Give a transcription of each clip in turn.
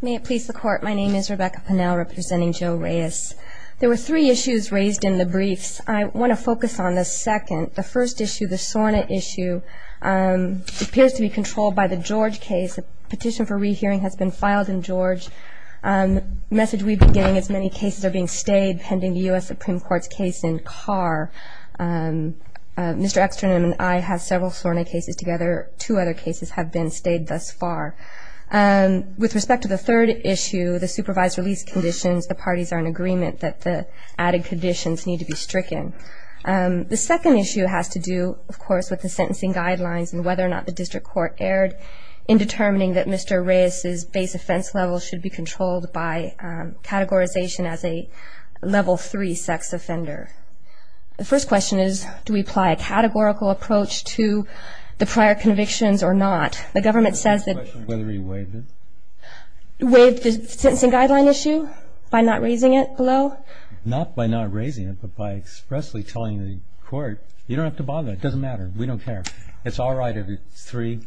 May it please the court, my name is Rebecca Pennell representing Joe Reyes. There were three issues raised in the briefs. I want to focus on the second. The first issue, the SORNA issue, appears to be controlled by the George case. A petition for rehearing has been filed in George. The message we've been getting is many cases are being stayed pending the U.S. Supreme Court's case in Carr. Mr. Ekstrand and I have several SORNA cases together. Two other cases have been stayed thus far. With respect to the third issue, the supervised release conditions, the parties are in agreement that the added conditions need to be stricken. The second issue has to do, of course, with the sentencing guidelines and whether or not the district court erred in determining that Mr. Reyes's base offense level should be controlled by categorization as a level three sex offender. The first question is, do we apply a categorical approach to the prior convictions or not? The government says that- The question is whether he waived it. Waived the sentencing guideline issue by not raising it below? Not by not raising it, but by expressly telling the court, you don't have to bother. It doesn't matter. We don't care. It's all right if it's three.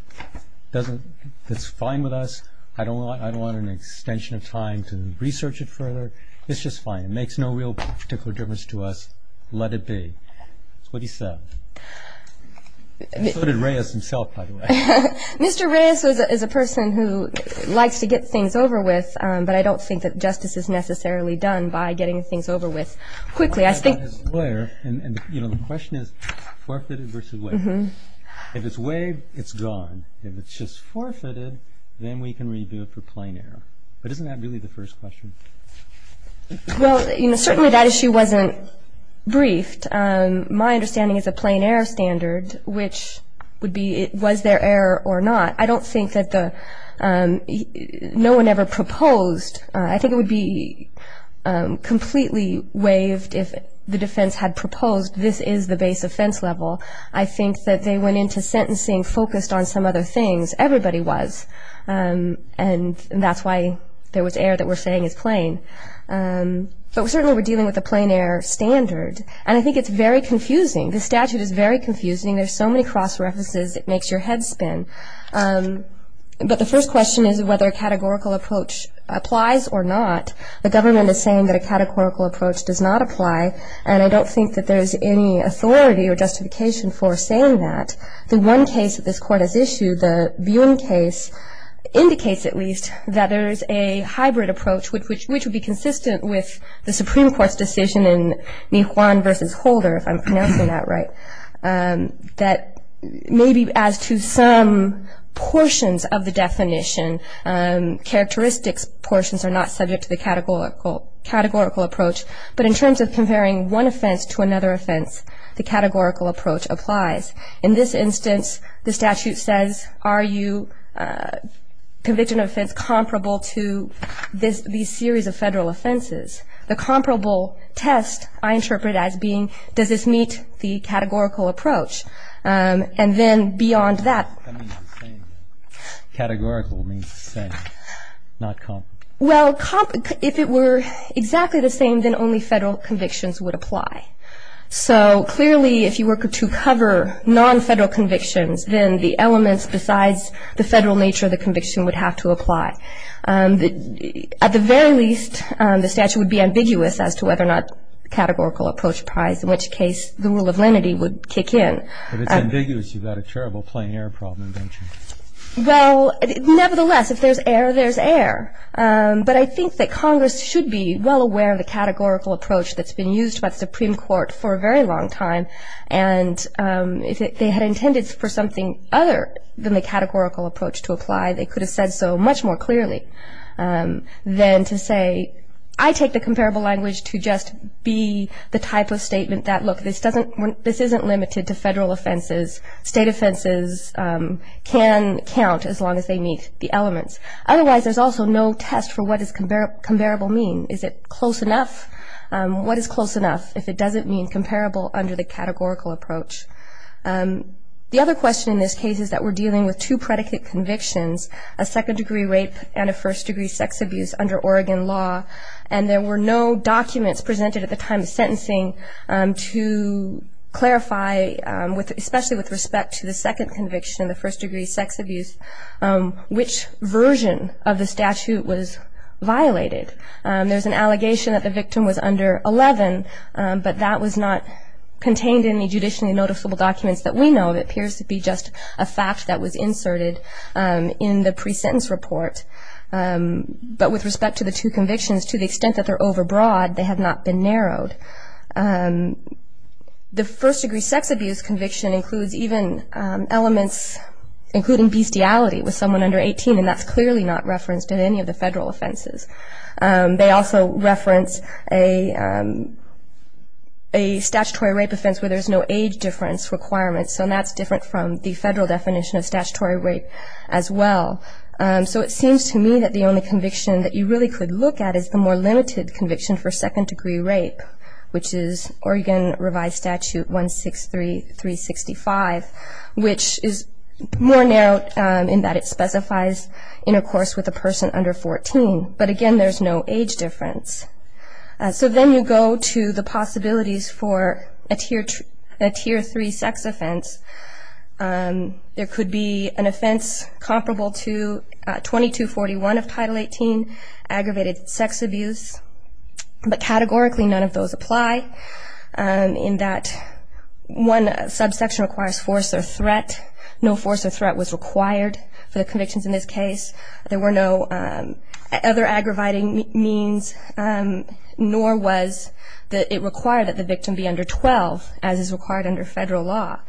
It's fine with us. I don't want an extension of time to research it further. It's just fine. It makes no real particular difference to us. Let it be. That's what he said. So did Reyes himself, by the way. Mr. Reyes is a person who likes to get things over with, but I don't think that justice is necessarily done by getting things over with quickly. I think- The question is forfeited versus waived. If it's waived, it's gone. If it's just forfeited, then we can review it for plain error. But isn't that really the first question? Well, certainly that issue wasn't briefed. My understanding is a plain error standard, which would be was there error or not. I don't think that no one ever proposed. I think it would be completely waived if the defense had proposed this is the base offense level. I think that they went into sentencing focused on some other things. Everybody was, and that's why there was error that we're saying is plain. But certainly we're dealing with a plain error standard, and I think it's very confusing. The statute is very confusing. There's so many cross references it makes your head spin. But the first question is whether a categorical approach applies or not. The government is saying that a categorical approach does not apply, and I don't think that there's any authority or justification for saying that. The one case that this Court has issued, the Buin case, indicates at least that there is a hybrid approach, which would be consistent with the Supreme Court's decision in Nihuan v. Holder, if I'm pronouncing that right, that maybe as to some portions of the definition, characteristics portions are not subject to the categorical approach. But in terms of comparing one offense to another offense, the categorical approach applies. In this instance, the statute says, are you convicted of an offense comparable to these series of federal offenses? The comparable test I interpret as being, does this meet the categorical approach? And then beyond that. That means the same. Categorical means the same, not comparable. Well, if it were exactly the same, then only federal convictions would apply. So clearly, if you were to cover non-federal convictions, then the elements besides the federal nature of the conviction would have to apply. At the very least, the statute would be ambiguous as to whether or not categorical approach applies, in which case the rule of lenity would kick in. If it's ambiguous, you've got a terrible plain air problem, don't you? Well, nevertheless, if there's air, there's air. But I think that Congress should be well aware of the categorical approach that's been used by the Supreme Court for a very long time. And if they had intended for something other than the categorical approach to apply, they could have said so much more clearly than to say, I take the comparable language to just be the type of statement that, look, this isn't limited to federal offenses. State offenses can count as long as they meet the elements. Otherwise, there's also no test for what does comparable mean. Is it close enough? What is close enough if it doesn't mean comparable under the categorical approach? The other question in this case is that we're dealing with two predicate convictions, a second-degree rape and a first-degree sex abuse under Oregon law, and there were no documents presented at the time of sentencing to clarify, especially with respect to the second conviction, the first-degree sex abuse, which version of the statute was violated. There's an allegation that the victim was under 11, but that was not contained in any judicially noticeable documents that we know of. It appears to be just a fact that was inserted in the pre-sentence report. But with respect to the two convictions, to the extent that they're overbroad, they have not been narrowed. The first-degree sex abuse conviction includes even elements including bestiality with someone under 18, and that's clearly not referenced in any of the federal offenses. They also reference a statutory rape offense where there's no age difference requirement, so that's different from the federal definition of statutory rape as well. So it seems to me that the only conviction that you really could look at is the more limited conviction for second-degree rape, which is Oregon Revised Statute 163-365, which is more narrowed in that it specifies intercourse with a person under 14. But, again, there's no age difference. So then you go to the possibilities for a Tier 3 sex offense. There could be an offense comparable to 2241 of Title 18, aggravated sex abuse, but categorically none of those apply in that one subsection requires force or threat. No force or threat was required for the convictions in this case. There were no other aggravating means, nor was it required that the victim be under 12, as is required under federal law.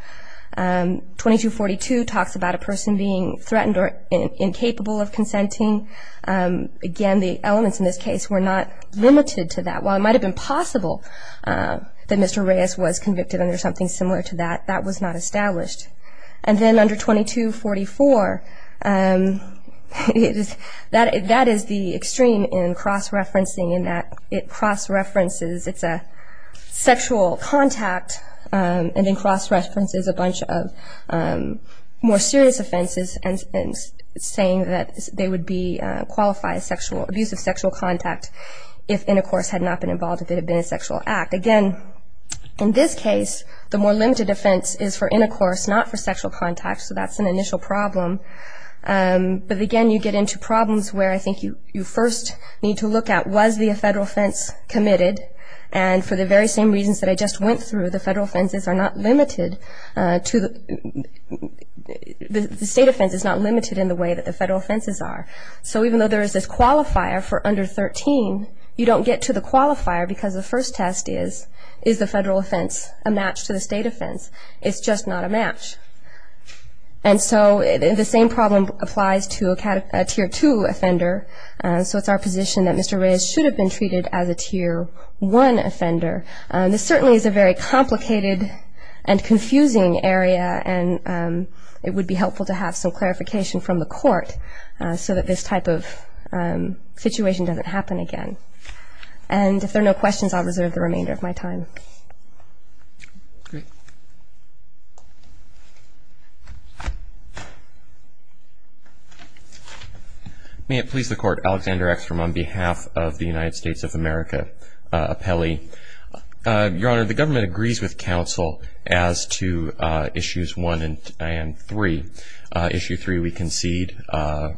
2242 talks about a person being threatened or incapable of consenting. Again, the elements in this case were not limited to that. While it might have been possible that Mr. Reyes was convicted under something similar to that, that was not established. And then under 2244, that is the extreme in cross-referencing, in that it cross-references it's a sexual contact and then cross-references a bunch of more serious offenses and saying that they would qualify as abuse of sexual contact if intercourse had not been involved, if it had been a sexual act. Again, in this case, the more limited offense is for intercourse, not for sexual contact, so that's an initial problem. But again, you get into problems where I think you first need to look at, was the federal offense committed? And for the very same reasons that I just went through, the federal offenses are not limited to the state offenses, not limited in the way that the federal offenses are. So even though there is this qualifier for under 13, you don't get to the qualifier because the first test is, is the federal offense a match to the state offense? It's just not a match. And so the same problem applies to a Tier 2 offender, so it's our position that Mr. Reyes should have been treated as a Tier 1 offender. This certainly is a very complicated and confusing area, and it would be helpful to have some clarification from the court so that this type of situation doesn't happen again. And if there are no questions, I'll reserve the remainder of my time. Great. May it please the Court, Alexander Eckstrom on behalf of the United States of America appellee. Your Honor, the government agrees with counsel as to Issues 1 and 3. Issue 3, we concede,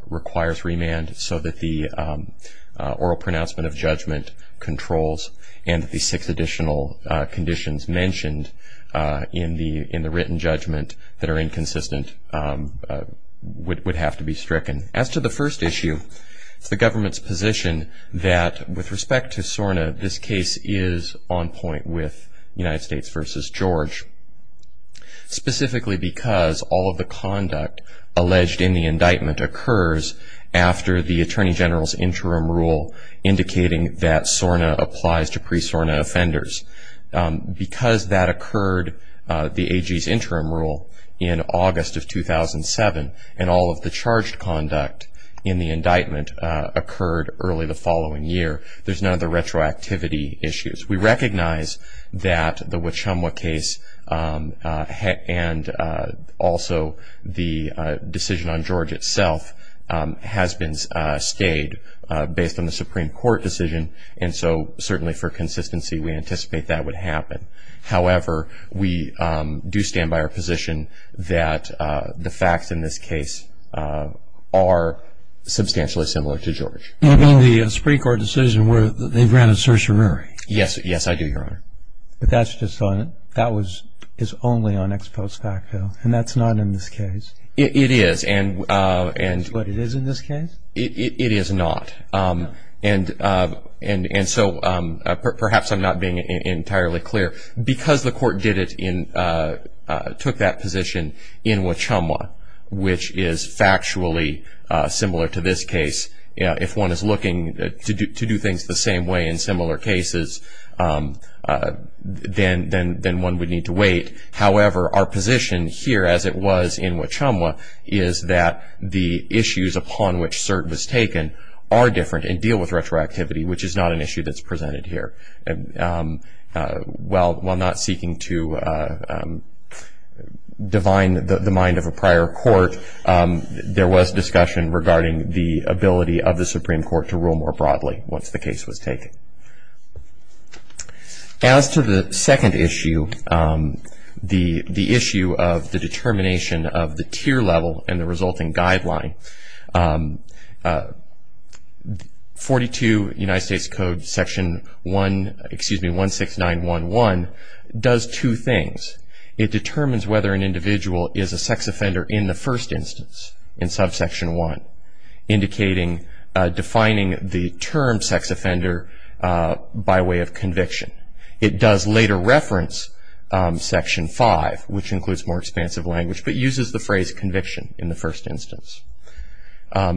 requires remand so that the oral pronouncement of judgment controls and that the six additional conditions mentioned in the written judgment that are inconsistent would have to be stricken. As to the first issue, it's the government's position that with respect to SORNA, this case is on point with United States v. George, specifically because all of the conduct alleged in the indictment occurs after the Attorney General's interim rule indicating that SORNA applies to pre-SORNA offenders. Because that occurred, the AG's interim rule, in August of 2007, and all of the charged conduct in the indictment occurred early the following year, there's none of the retroactivity issues. We recognize that the Wachumwa case and also the decision on George itself has been stayed based on the Supreme Court decision, and so certainly for consistency we anticipate that would happen. However, we do stand by our position that the facts in this case are substantially similar to George. You mean the Supreme Court decision where they granted certiorari? Yes, I do, Your Honor. But that was only on ex post facto, and that's not in this case? It is. That's what it is in this case? It is not. And so perhaps I'm not being entirely clear. Because the Court took that position in Wachumwa, which is factually similar to this case, if one is looking to do things the same way in similar cases, then one would need to wait. However, our position here, as it was in Wachumwa, is that the issues upon which cert was taken are different and deal with retroactivity, which is not an issue that's presented here. While not seeking to divine the mind of a prior court, there was discussion regarding the ability of the Supreme Court to rule more broadly once the case was taken. As to the second issue, the issue of the determination of the tier level and the resulting guideline, 42 United States Code Section 16911 does two things. It determines whether an individual is a sex offender in the first instance, in subsection 1, defining the term sex offender by way of conviction. It does later reference section 5, which includes more expansive language, but uses the phrase conviction in the first instance.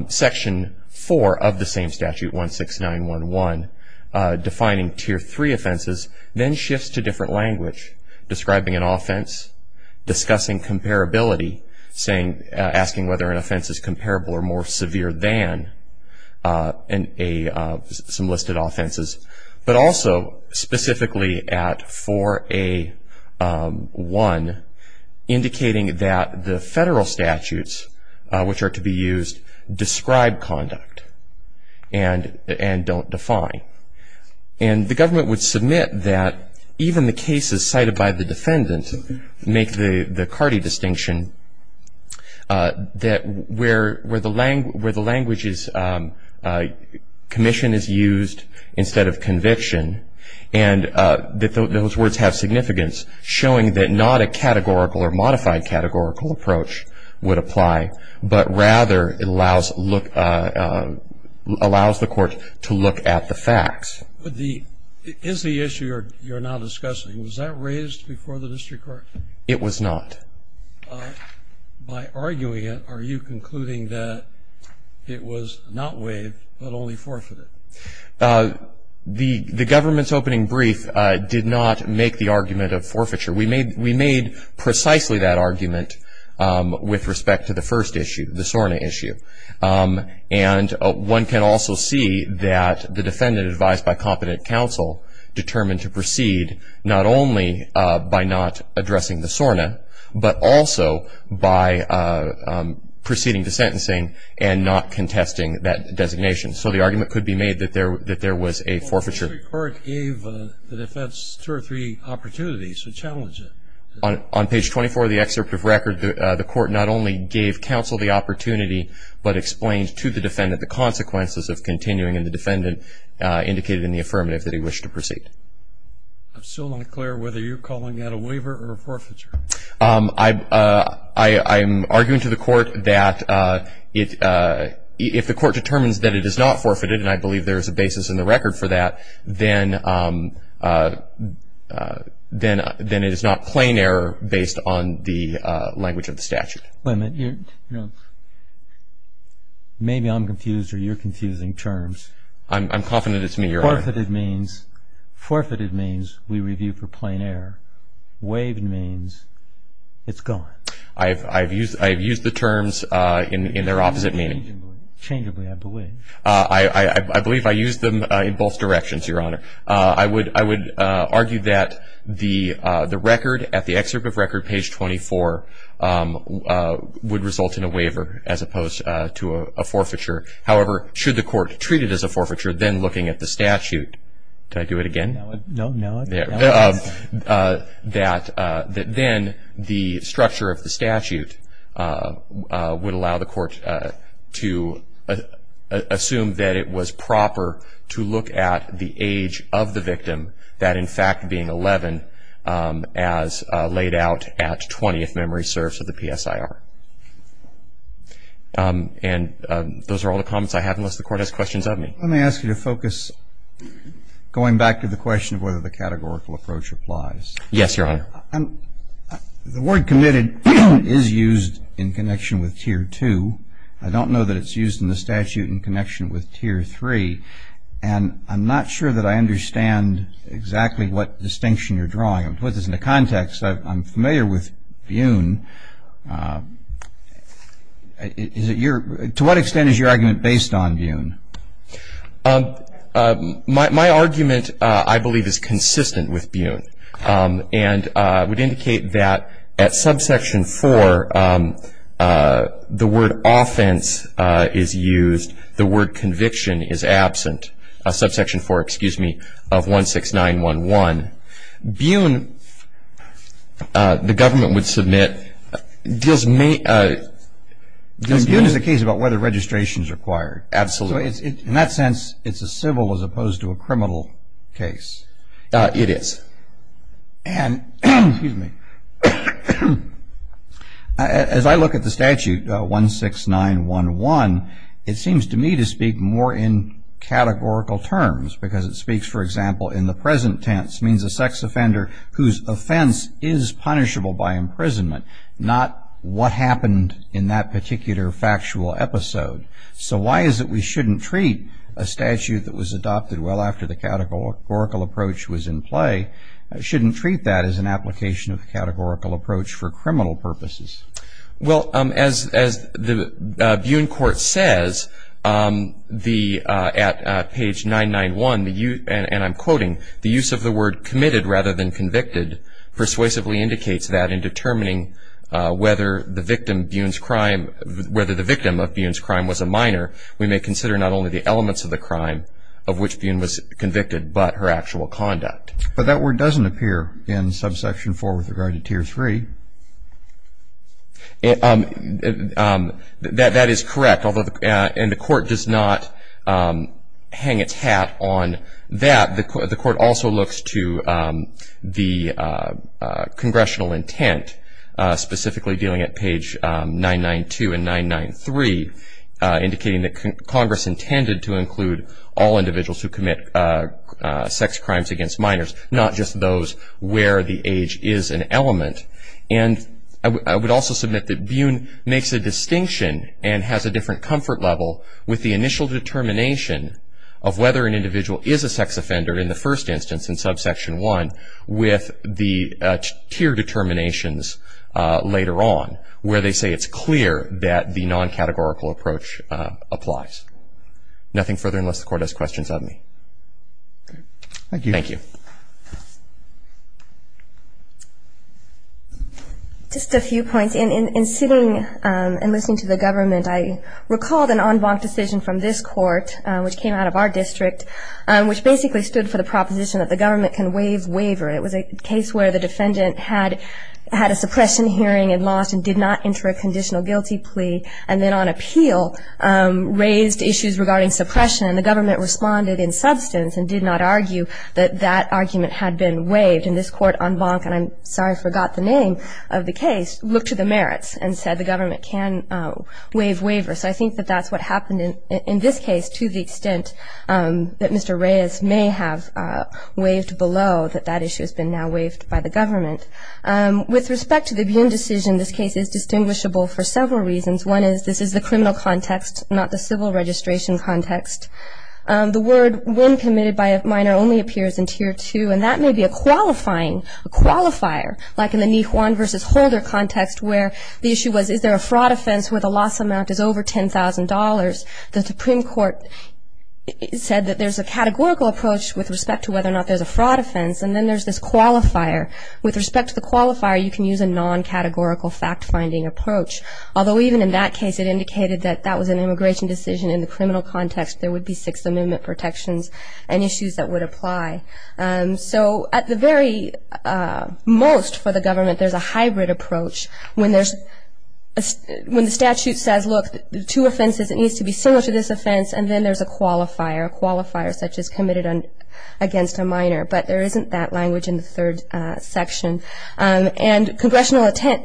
Section 4 of the same statute, 16911, defining tier 3 offenses, then shifts to different language, describing an offense, discussing comparability, asking whether an offense is comparable or more severe than some listed offenses, but also specifically at 4A1, indicating that the federal statutes, which are to be used, describe conduct and don't define. And the government would submit that even the cases cited by the defendant make the Cardi distinction, that where the language is commission is used instead of conviction, and that those words have significance, showing that not a categorical or modified categorical approach would apply, but rather allows the court to look at the facts. Is the issue you're now discussing, was that raised before the district court? It was not. By arguing it, are you concluding that it was not waived but only forfeited? The government's opening brief did not make the argument of forfeiture. We made precisely that argument with respect to the first issue, the SORNA issue. And one can also see that the defendant, advised by competent counsel, determined to proceed not only by not addressing the SORNA, but also by proceeding to sentencing and not contesting that designation. So the argument could be made that there was a forfeiture. The district court gave the defense two or three opportunities to challenge it. On page 24 of the excerpt of record, the court not only gave counsel the opportunity, but explained to the defendant the consequences of continuing, and the defendant indicated in the affirmative that he wished to proceed. I'm still not clear whether you're calling that a waiver or a forfeiture. I'm arguing to the court that if the court determines that it is not forfeited, and I believe there is a basis in the record for that, then it is not plain error based on the language of the statute. Wait a minute. Maybe I'm confused or you're confusing terms. I'm confident it's me, Your Honor. Forfeited means we review for plain error. Waived means it's gone. I've used the terms in their opposite meaning. Changeably, I believe. I believe I used them in both directions, Your Honor. I would argue that the record at the excerpt of record, page 24, would result in a waiver as opposed to a forfeiture. However, should the court treat it as a forfeiture, then looking at the statute, did I do it again? No. Then the structure of the statute would allow the court to assume that it was proper to look at the age of the victim, that, in fact, being 11 as laid out at 20, if memory serves, of the PSIR. And those are all the comments I have, unless the court has questions of me. Let me ask you to focus, going back to the question of whether the counselor categorical approach applies. Yes, Your Honor. The word committed is used in connection with Tier 2. I don't know that it's used in the statute in connection with Tier 3. And I'm not sure that I understand exactly what distinction you're drawing. To put this into context, I'm familiar with Buhn. To what extent is your argument based on Buhn? My argument, I believe, is consistent with Buhn and would indicate that at subsection 4, the word offense is used. The word conviction is absent. Subsection 4, excuse me, of 16911. Buhn, the government would submit. Buhn is the case about whether registration is required. Absolutely. In that sense, it's a civil as opposed to a criminal case. It is. And, excuse me, as I look at the statute, 16911, it seems to me to speak more in categorical terms, because it speaks, for example, in the present tense, means a sex offender whose offense is punishable by imprisonment, not what happened in that particular factual episode. So why is it we shouldn't treat a statute that was adopted well after the categorical approach was in play, shouldn't treat that as an application of a categorical approach for criminal purposes? Well, as the Buhn court says at page 991, and I'm quoting, the use of the word committed rather than convicted persuasively indicates that in determining whether the victim of Buhn's crime was a minor, we may consider not only the elements of the crime of which Buhn was convicted, but her actual conduct. But that word doesn't appear in subsection 4 with regard to tier 3. That is correct, and the court does not hang its hat on that. The court also looks to the congressional intent, specifically dealing at page 992 and 993, indicating that Congress intended to include all individuals who commit sex crimes against minors, not just those where the age is an element. And I would also submit that Buhn makes a distinction and has a different comfort level with the initial determination of whether an individual is a sex offender in the first instance in subsection 1 with the tier determinations later on, where they say it's clear that the non-categorical approach applies. Nothing further unless the court has questions of me. Thank you. Thank you. Just a few points. In sitting and listening to the government, I recalled an en banc decision from this court, which came out of our district, which basically stood for the proposition that the government can waive waiver. It was a case where the defendant had a suppression hearing and lost and did not enter a conditional guilty plea and then on appeal raised issues regarding suppression, and the government responded in substance and did not argue that that argument had been waived. And this court en banc, and I'm sorry I forgot the name of the case, looked to the merits and said the government can waive waiver. So I think that that's what happened in this case to the extent that Mr. Reyes may have waived below, that that issue has been now waived by the government. With respect to the Buhn decision, this case is distinguishable for several reasons. One is this is the criminal context, not the civil registration context. The word when committed by a minor only appears in tier 2, and that may be a qualifying, a qualifier, like in the Nihuan versus Holder context where the issue was is there a fraud offense where the loss amount is over $10,000. The Supreme Court said that there's a categorical approach with respect to whether or not there's a fraud offense, and then there's this qualifier. With respect to the qualifier, you can use a non-categorical fact-finding approach, although even in that case it indicated that that was an immigration decision. In the criminal context, there would be Sixth Amendment protections and issues that would apply. So at the very most for the government, there's a hybrid approach. When the statute says, look, two offenses, it needs to be similar to this offense, and then there's a qualifier, a qualifier such as committed against a minor. But there isn't that language in the third section. And congressional intent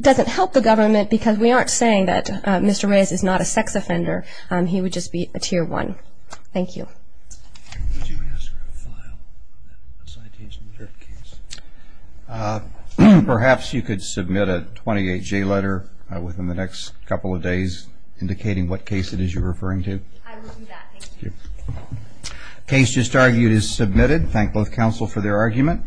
doesn't help the government because we aren't saying that Mr. Reyes is not a sex offender. He would just be a tier 1. Thank you. Perhaps you could submit a 28-J letter within the next couple of days indicating what case it is you're referring to. I will do that. Thank you. The case just argued is submitted. Thank both counsel for their argument.